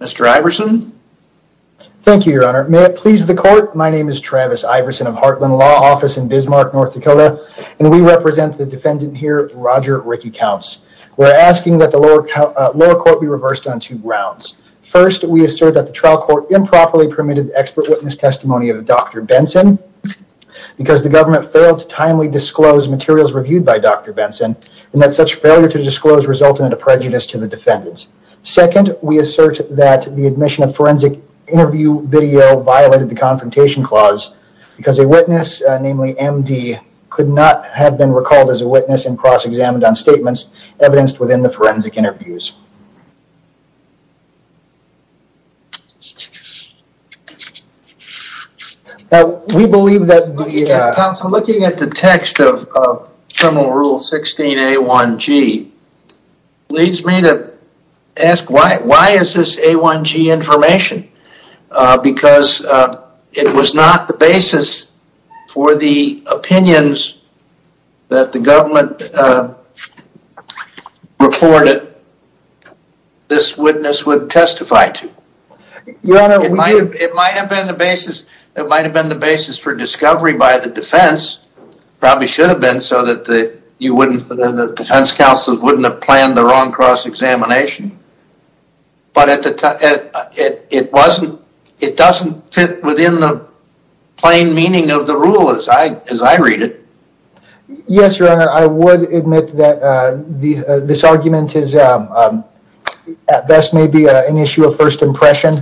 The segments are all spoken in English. Mr. Iverson. Thank you, Your Honor. May it please the court. My name is Travis Iverson of Heartland Law Office in Bismarck, North Dakota, and we represent the defendant here, Roger Rickey Counts. We're asking that the lower court be reversed on two grounds. First, we assert that the trial court improperly permitted expert witness testimony of Dr. Benson because the government failed to timely disclose materials reviewed by Dr. Benson and that such failure to disclose resulted in a prejudice to the defendants. Second, we assert that the admission of forensic interview video violated the confrontation clause because a witness, namely MD, could not have been recalled as a witness and cross-examined on statements evidenced within the forensic interviews. Counsel, looking at the text of criminal rule 16A1G leads me to ask why is this A1G information? Because it was not the basis for the opinions that the government reported this witness would testify to. It might have been the basis for discovery by the defense, probably should have been so that the defense counsel wouldn't have planned the wrong cross-examination, but it doesn't fit within the plain meaning of the rule as I read it. Yes, your honor, I would admit that this argument is at best maybe an issue of first impression.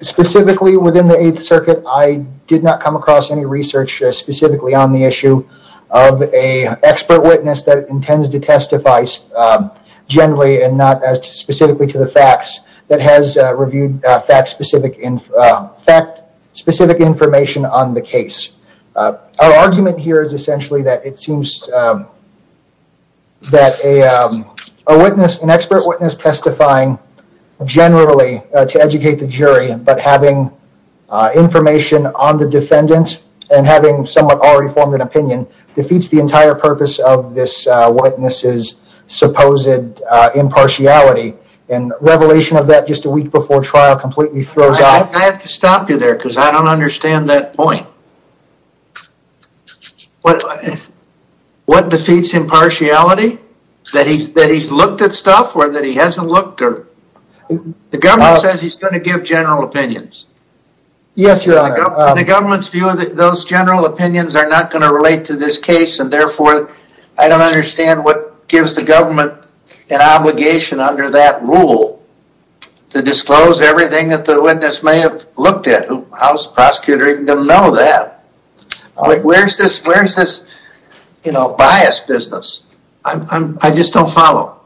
Specifically within the Eighth Circuit, I did not come across any research specifically on the issue of an expert witness that intends to testify generally and not specifically to the facts that has reviewed fact specific information on the case. Our argument here is essentially that it seems that an expert witness testifying generally to educate the jury, but having information on the defendant and having someone already form an opinion, defeats the entire purpose of this witness's supposed impartiality. And revelation of that just a week before trial completely throws off. I have to stop you there because I don't understand that point. What defeats impartiality? That he's looked at stuff or that he hasn't looked or The government says he's going to give general opinions. Yes, your honor. The government's view of those general opinions are not going to relate to this case, and therefore, I don't understand what gives the government an obligation under that rule to disclose everything that the witness may have looked at. How's the prosecutor even going to know that? Where's this bias business? I just don't follow.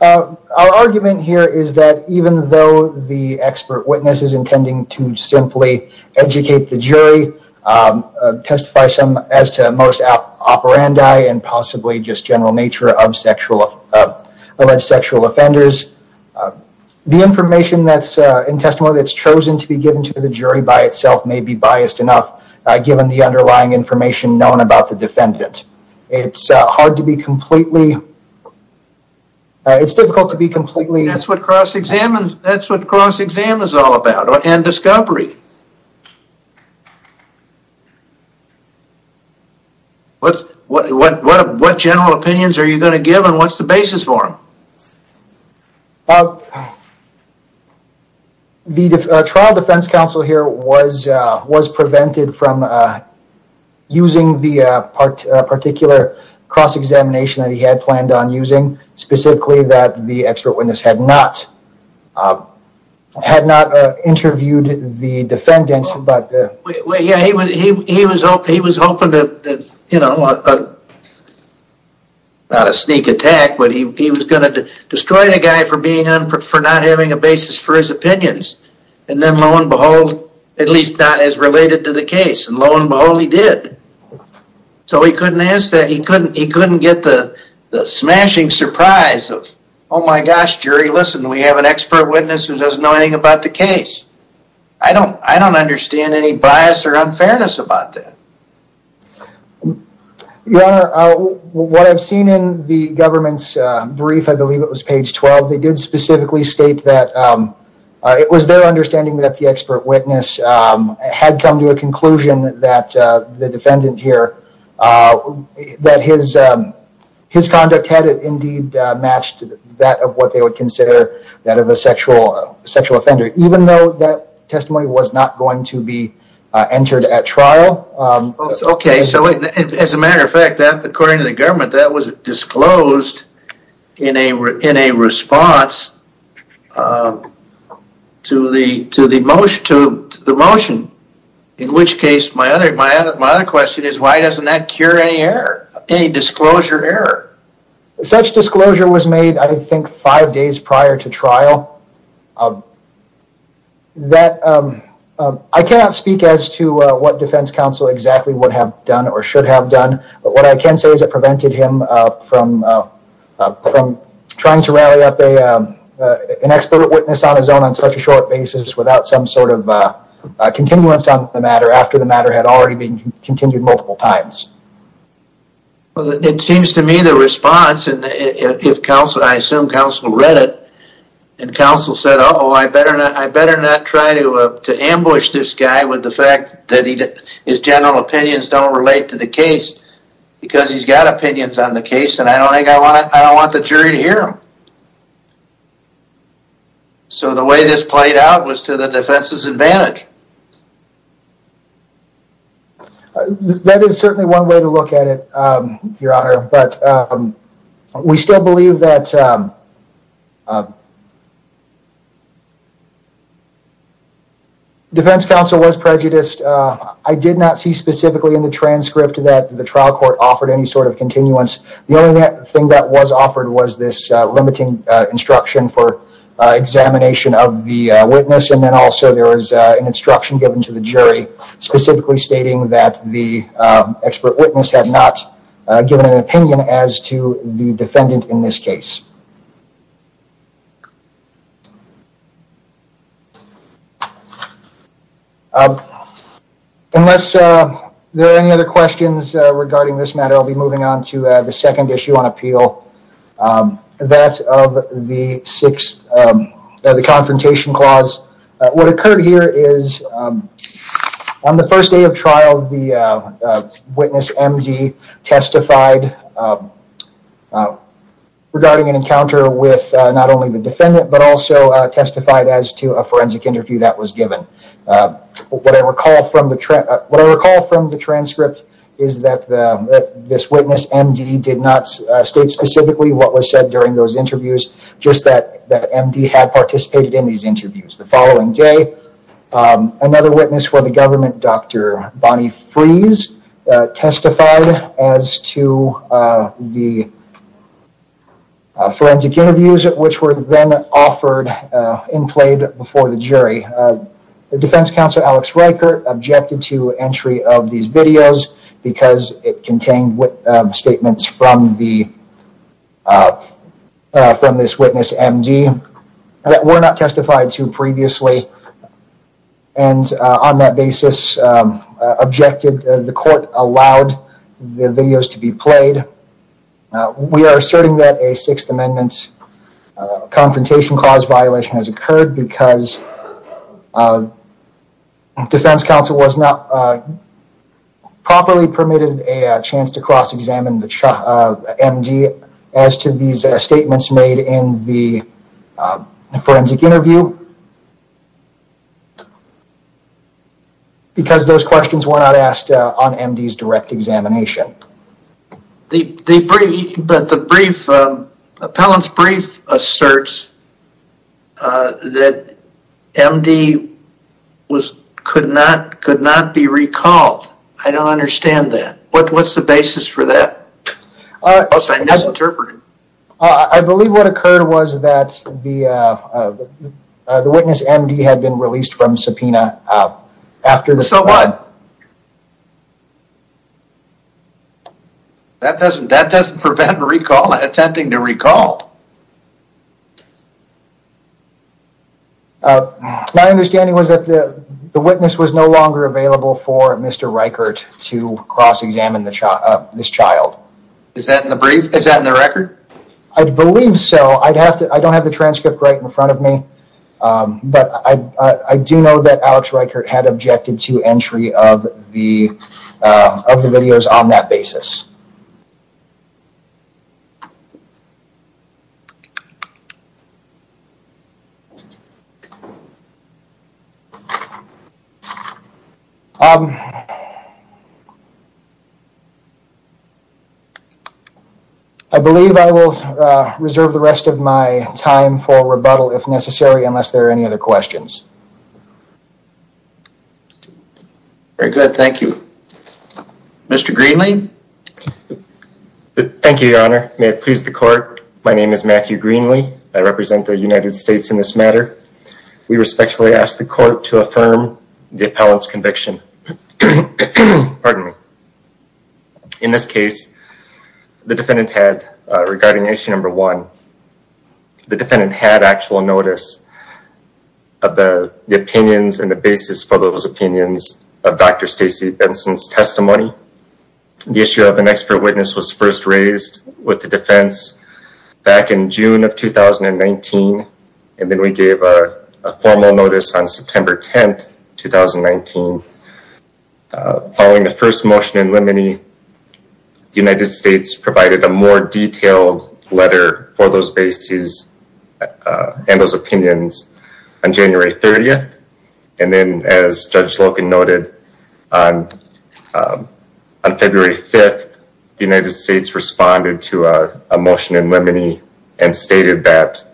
Our argument here is that even though the expert witness is intending to simply educate the jury, testify as to most operandi and possibly just general nature of alleged sexual offenders, the information that's in testimony that's chosen to be given to the jury by itself may be biased enough, given the underlying information known about the defendant. It's hard to be completely... It's difficult to be completely... That's what cross-exam is all about and discovery. What general opinions are you going to give and what's the basis for them? The trial defense counsel here was prevented from using the particular cross-examination that he had planned on using, specifically that the expert witness had not interviewed the defendant. He was hoping to... Not a sneak attack, but he was going to destroy the guy for not having a basis for his opinions. And then lo and behold, at least not as related to the case. And lo and behold, he did. So he couldn't get the smashing surprise of, oh my gosh, jury, listen, we have an expert witness who doesn't know anything about the case. I don't understand any bias or unfairness about that. Your Honor, what I've seen in the government's brief, I believe it was page 12, they did specifically state that it was their understanding that the expert witness had come to a conclusion that the defendant here, that his conduct had indeed matched that of what they would consider that of a sexual offender. Even though that testimony was not going to be entered at trial. Okay, so as a matter of fact, according to the government, that was disclosed in a response to the motion. In which case, my other question is, why doesn't that cure any error? Any disclosure error? Such disclosure was made, I think, five days prior to trial. I cannot speak as to what defense counsel exactly would have done or should have done. But what I can say is it prevented him from trying to rally up an expert witness on his own on such a short basis without some sort of continuance on the matter after the matter had already been continued multiple times. It seems to me the response, and I assume counsel read it, and counsel said, uh-oh, I better not try to ambush this guy with the fact that his general opinions don't relate to the case because he's got opinions on the case and I don't want the jury to hear him. So the way this played out was to the defense's advantage. That is certainly one way to look at it, Your Honor. But we still believe that defense counsel was prejudiced. I did not see specifically in the transcript that the trial court offered any sort of continuance. The only thing that was offered was this limiting instruction for examination of the witness and then also there was an instruction given to the jury specifically stating that the expert witness had not given an opinion as to the defendant in this case. Unless there are any other questions regarding this matter, I'll be moving on to the second issue on appeal. That of the Sixth Confrontation Clause. What occurred here is on the first day of trial, the witness MD testified regarding an encounter with not only the defendant but also testified as to a forensic interview that was given. What I recall from the transcript is that this witness, MD, did not state specifically what was said during those interviews, just that MD had participated in these interviews. The following day, another witness for the government, Dr. Bonnie Freeze, testified as to the forensic interviews which were then offered and played before the jury. The defense counsel, Alex Reichert, objected to entry of these videos because it contained statements from this witness, MD, that were not testified to previously. On that basis, the court allowed the videos to be played. We are asserting that a Sixth Amendment Confrontation Clause violation has occurred because defense counsel was not properly permitted a chance to cross-examine MD as to these statements made in the forensic interview because those questions were not asked on MD's direct examination. The appellant's brief asserts that MD could not be recalled. I don't understand that. What's the basis for that? I believe what occurred was that the witness, MD, had been released from subpoena. So what? That doesn't prevent recall, attempting to recall. My understanding was that the witness was no longer available for Mr. Reichert to cross-examine this child. Is that in the brief? Is that in the record? I believe so. I don't have the transcript right in front of me. But I do know that Alex Reichert had objected to entry of the videos on that basis. I believe I will reserve the rest of my time for rebuttal if necessary unless there are any other questions. Very good. Thank you. Mr. Greenlee? Thank you, Your Honor. May it please the court. My name is Matthew Greenlee. I represent the United States in this matter. We respectfully ask the court to affirm the appellant's conviction. Pardon me. In this case, the defendant had, regarding issue number one, the defendant had actual notice of the opinions and the basis for those opinions of Dr. Stacey Benson's testimony. The issue of an expert witness was first raised with the defense back in June of 2019. And then we gave a formal notice on September 10th, 2019. Following the first motion in limine, the United States provided a more detailed letter for those bases and those opinions on January 30th. And then, as Judge Slocum noted, on February 5th, the United States responded to a motion in limine and stated that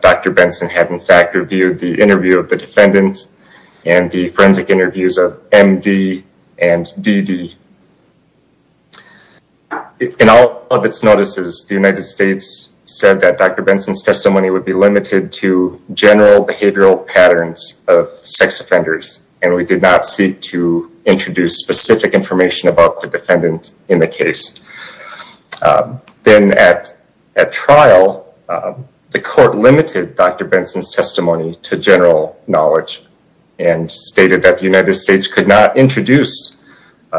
Dr. Benson had in fact reviewed the interview of the defendant and the forensic interviews of MD and DD. In all of its notices, the United States said that Dr. Benson's testimony would be limited to general behavioral patterns of sex offenders. And we did not seek to introduce specific information about the defendant in the case. Then at trial, the court limited Dr. Benson's testimony to general knowledge and stated that the United States could not introduce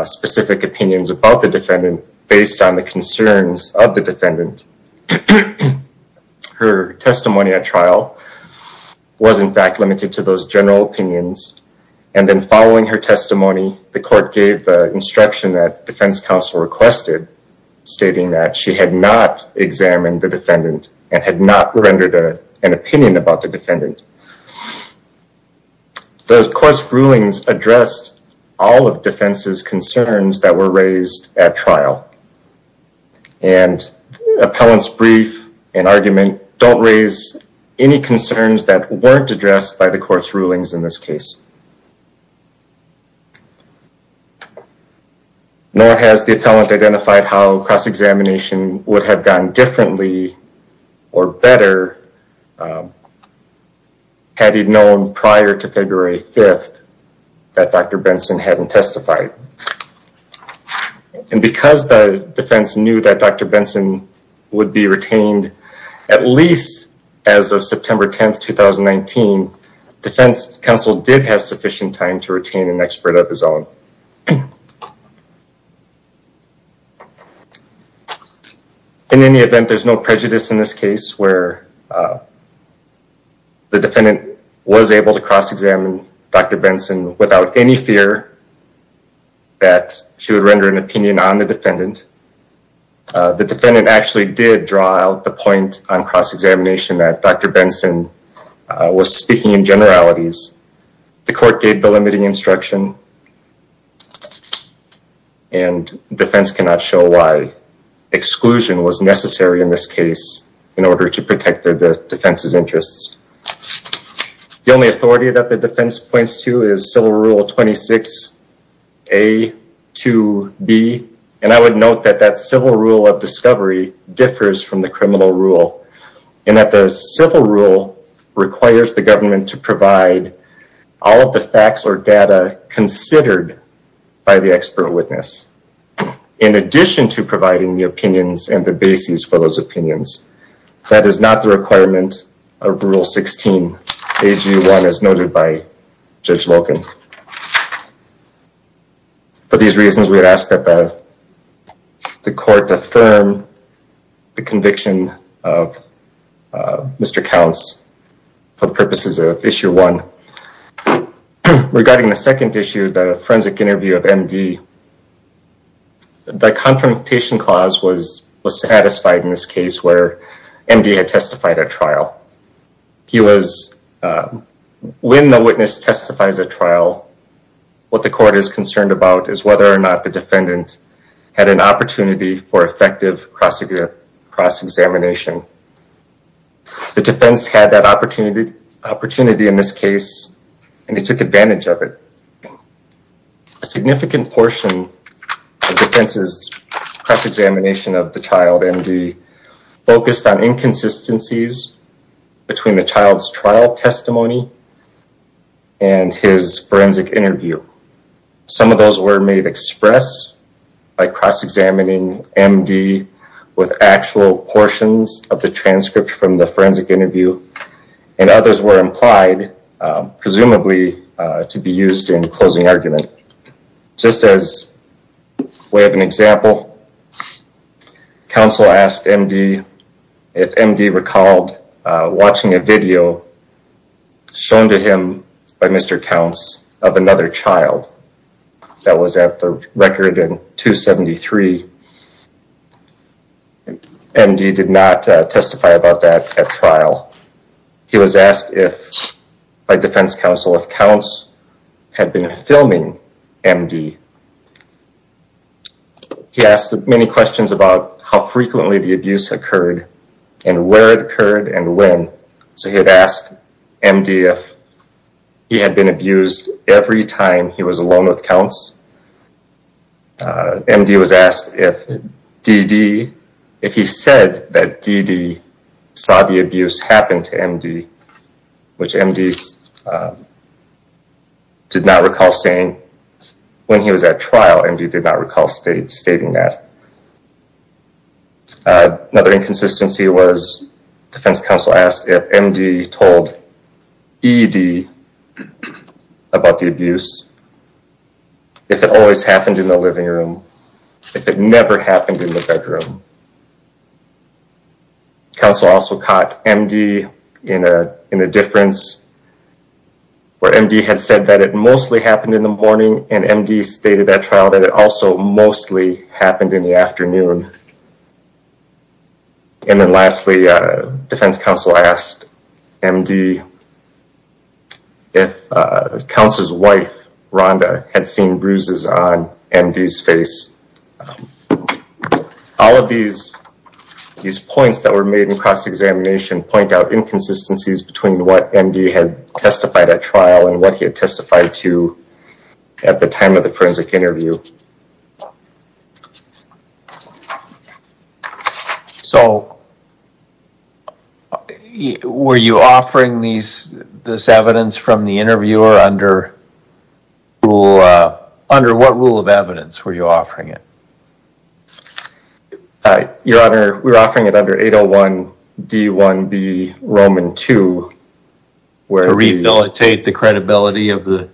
specific opinions about the defendant based on the concerns of the defendant. Her testimony at trial was in fact limited to those general opinions. And then following her testimony, the court gave the instruction that defense counsel requested, stating that she had not examined the defendant and had not rendered an opinion about the defendant. The court's rulings addressed all of defense's concerns that were raised at trial. And appellant's brief and argument don't raise any concerns that weren't addressed by the court's rulings in this case. Nor has the appellant identified how cross-examination would have gone differently or better had he known prior to February 5th that Dr. Benson hadn't testified. And because the defense knew that Dr. Benson would be retained at least as of September 10th, 2019, defense counsel did have sufficient time to retain an expert of his own. In any event, there's no prejudice in this case where the defendant was able to cross-examine Dr. Benson without any fear that she would render an opinion on the defendant. The defendant actually did draw out the point on cross-examination that Dr. Benson was speaking in generalities. The court gave the limiting instruction and defense cannot show why exclusion was necessary in this case in order to protect the defense's interests. The only authority that the defense points to is civil rule 26A to B. And I would note that that civil rule of discovery differs from the criminal rule. And that the civil rule requires the government to provide all of the facts or data considered by the expert witness. In addition to providing the opinions and the basis for those opinions. That is not the requirement of rule 16AG1 as noted by Judge Loken. For these reasons, we would ask that the court affirm the conviction of Mr. Counts for the purposes of issue one. Regarding the second issue, the forensic interview of M.D. The confrontation clause was satisfied in this case where M.D. had testified at trial. When the witness testifies at trial, what the court is concerned about is whether or not the defendant had an opportunity for effective cross-examination. The defense had that opportunity in this case and it took advantage of it. A significant portion of defense's cross-examination of the child, M.D., focused on inconsistencies between the child's trial testimony and his forensic interview. Some of those were made express by cross-examining M.D. with actual portions of the transcript from the forensic interview. And others were implied, presumably, to be used in closing argument. Just as way of an example, counsel asked M.D. if M.D. recalled watching a video shown to him by Mr. Counts of another child that was at the record in 273. M.D. did not testify about that at trial. He was asked by defense counsel if Counts had been filming M.D. He asked many questions about how frequently the abuse occurred and where it occurred and when. So he had asked M.D. if he had been abused every time he was alone with Counts. M.D. was asked if D.D., if he said that D.D. saw the abuse happen to M.D., which M.D. did not recall saying when he was at trial, M.D. did not recall stating that. Another inconsistency was defense counsel asked if M.D. told E.D. about the abuse, if it always happened in the living room, if it never happened in the bedroom. Counsel also caught M.D. in a difference where M.D. had said that it mostly happened in the morning and M.D. stated at trial that it also mostly happened in the afternoon. And then lastly, defense counsel asked M.D. if Counts' wife, Rhonda, had seen bruises on M.D.'s face. All of these points that were made in cross-examination point out inconsistencies between what M.D. had testified at trial and what he had testified to at the time of the forensic interview. So were you offering this evidence from the interviewer under what rule of evidence were you offering it? Your Honor, we were offering it under 801 D1B Roman 2. To rehabilitate the credibility of the...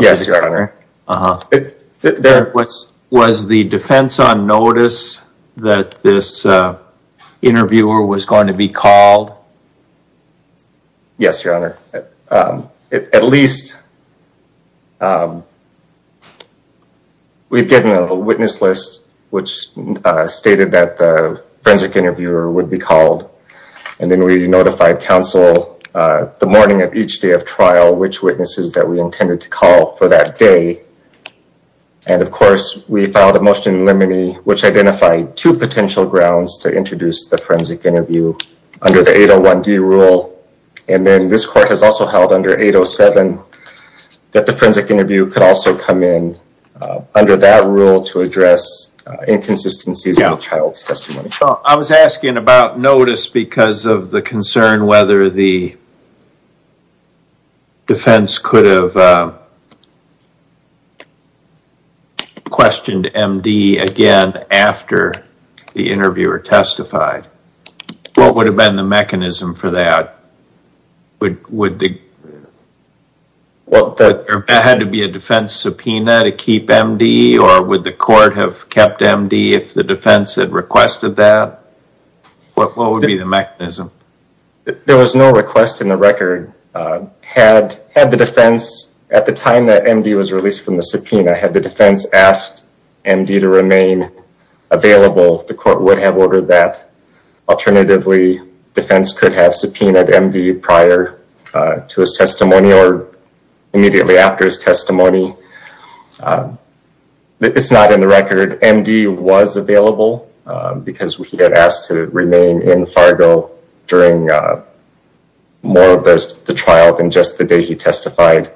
Yes, Your Honor. Was the defense on notice that this interviewer was going to be called? Yes, Your Honor. At least we've given a witness list which stated that the forensic interviewer would be called. And then we notified counsel the morning of each day of trial which witnesses that we intended to call for that day. And of course, we filed a motion in limine which identified two potential grounds to introduce the forensic interview under the 801 D rule. And then this court has also held under 807 that the forensic interview could also come in under that rule to address inconsistencies in the child's testimony. I was asking about notice because of the concern whether the defense could have questioned M.D. again after the interviewer testified. What would have been the mechanism for that? Would there have to be a defense subpoena to keep M.D.? Or would the court have kept M.D. if the defense had requested that? What would be the mechanism? There was no request in the record. At the time that M.D. was released from the subpoena, had the defense asked M.D. to remain available, the court would have ordered that. Alternatively, defense could have subpoenaed M.D. prior to his testimony or immediately after his testimony. It's not in the record. M.D. was available because he had asked to remain in Fargo during more of the trial than just the day he testified.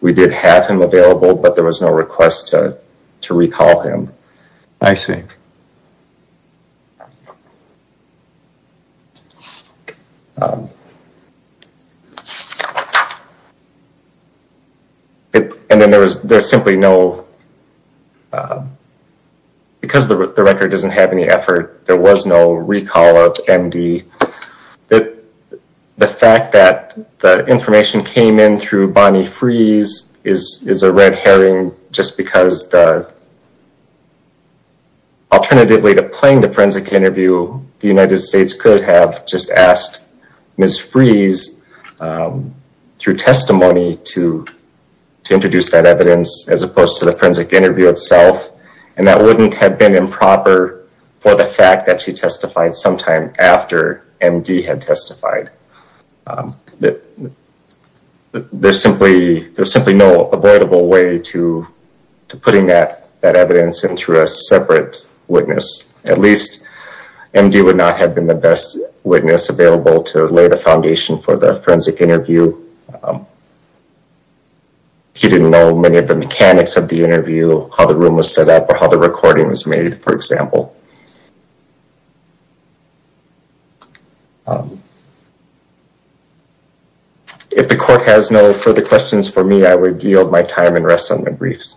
We did have him available, but there was no request to recall him. I see. Okay. And then there's simply no... Because the record doesn't have any effort, there was no recall of M.D. The fact that the information came in through Bonnie Freeze is a red herring just because... Alternatively to playing the forensic interview, the United States could have just asked Ms. Freeze through testimony to introduce that evidence as opposed to the forensic interview itself. And that wouldn't have been improper for the fact that she testified sometime after M.D. had testified. There's simply no avoidable way to putting that evidence into a separate witness. At least M.D. would not have been the best witness available to lay the foundation for the forensic interview. He didn't know many of the mechanics of the interview, how the room was set up, or how the recording was made, for example. If the court has no further questions for me, I would yield my time and rest on the briefs.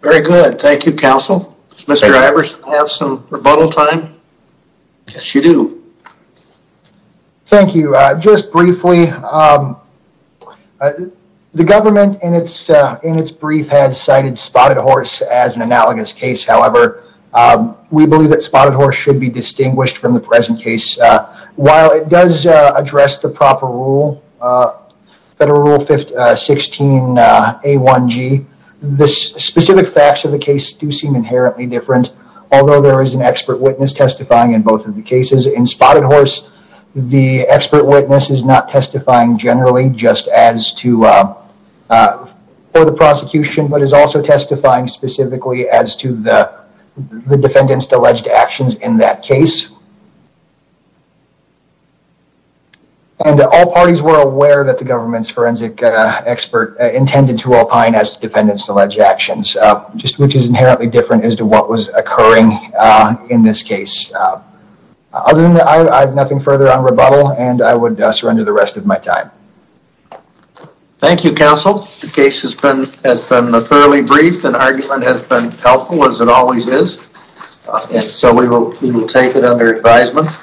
Very good. Thank you, counsel. Does Mr. Ivers have some rebuttal time? Yes, you do. Thank you. Just briefly, the government in its brief has cited Spotted Horse as an analogous case. However, we believe that Spotted Horse should be distinguished from the present case. While it does address the proper rule, Federal Rule 16A1G, the specific facts of the case do seem inherently different. Although there is an expert witness testifying in both of the cases in Spotted Horse, the expert witness is not testifying generally just for the prosecution, but is also testifying specifically as to the defendant's alleged actions in that case. And all parties were aware that the government's forensic expert intended to opine as to the defendant's alleged actions, which is inherently different as to what was occurring in this case. Other than that, I have nothing further on rebuttal, and I would surrender the rest of my time. Thank you, counsel. The case has been thoroughly briefed, and the argument has been helpful, as it always is. And so we will take it under advisement.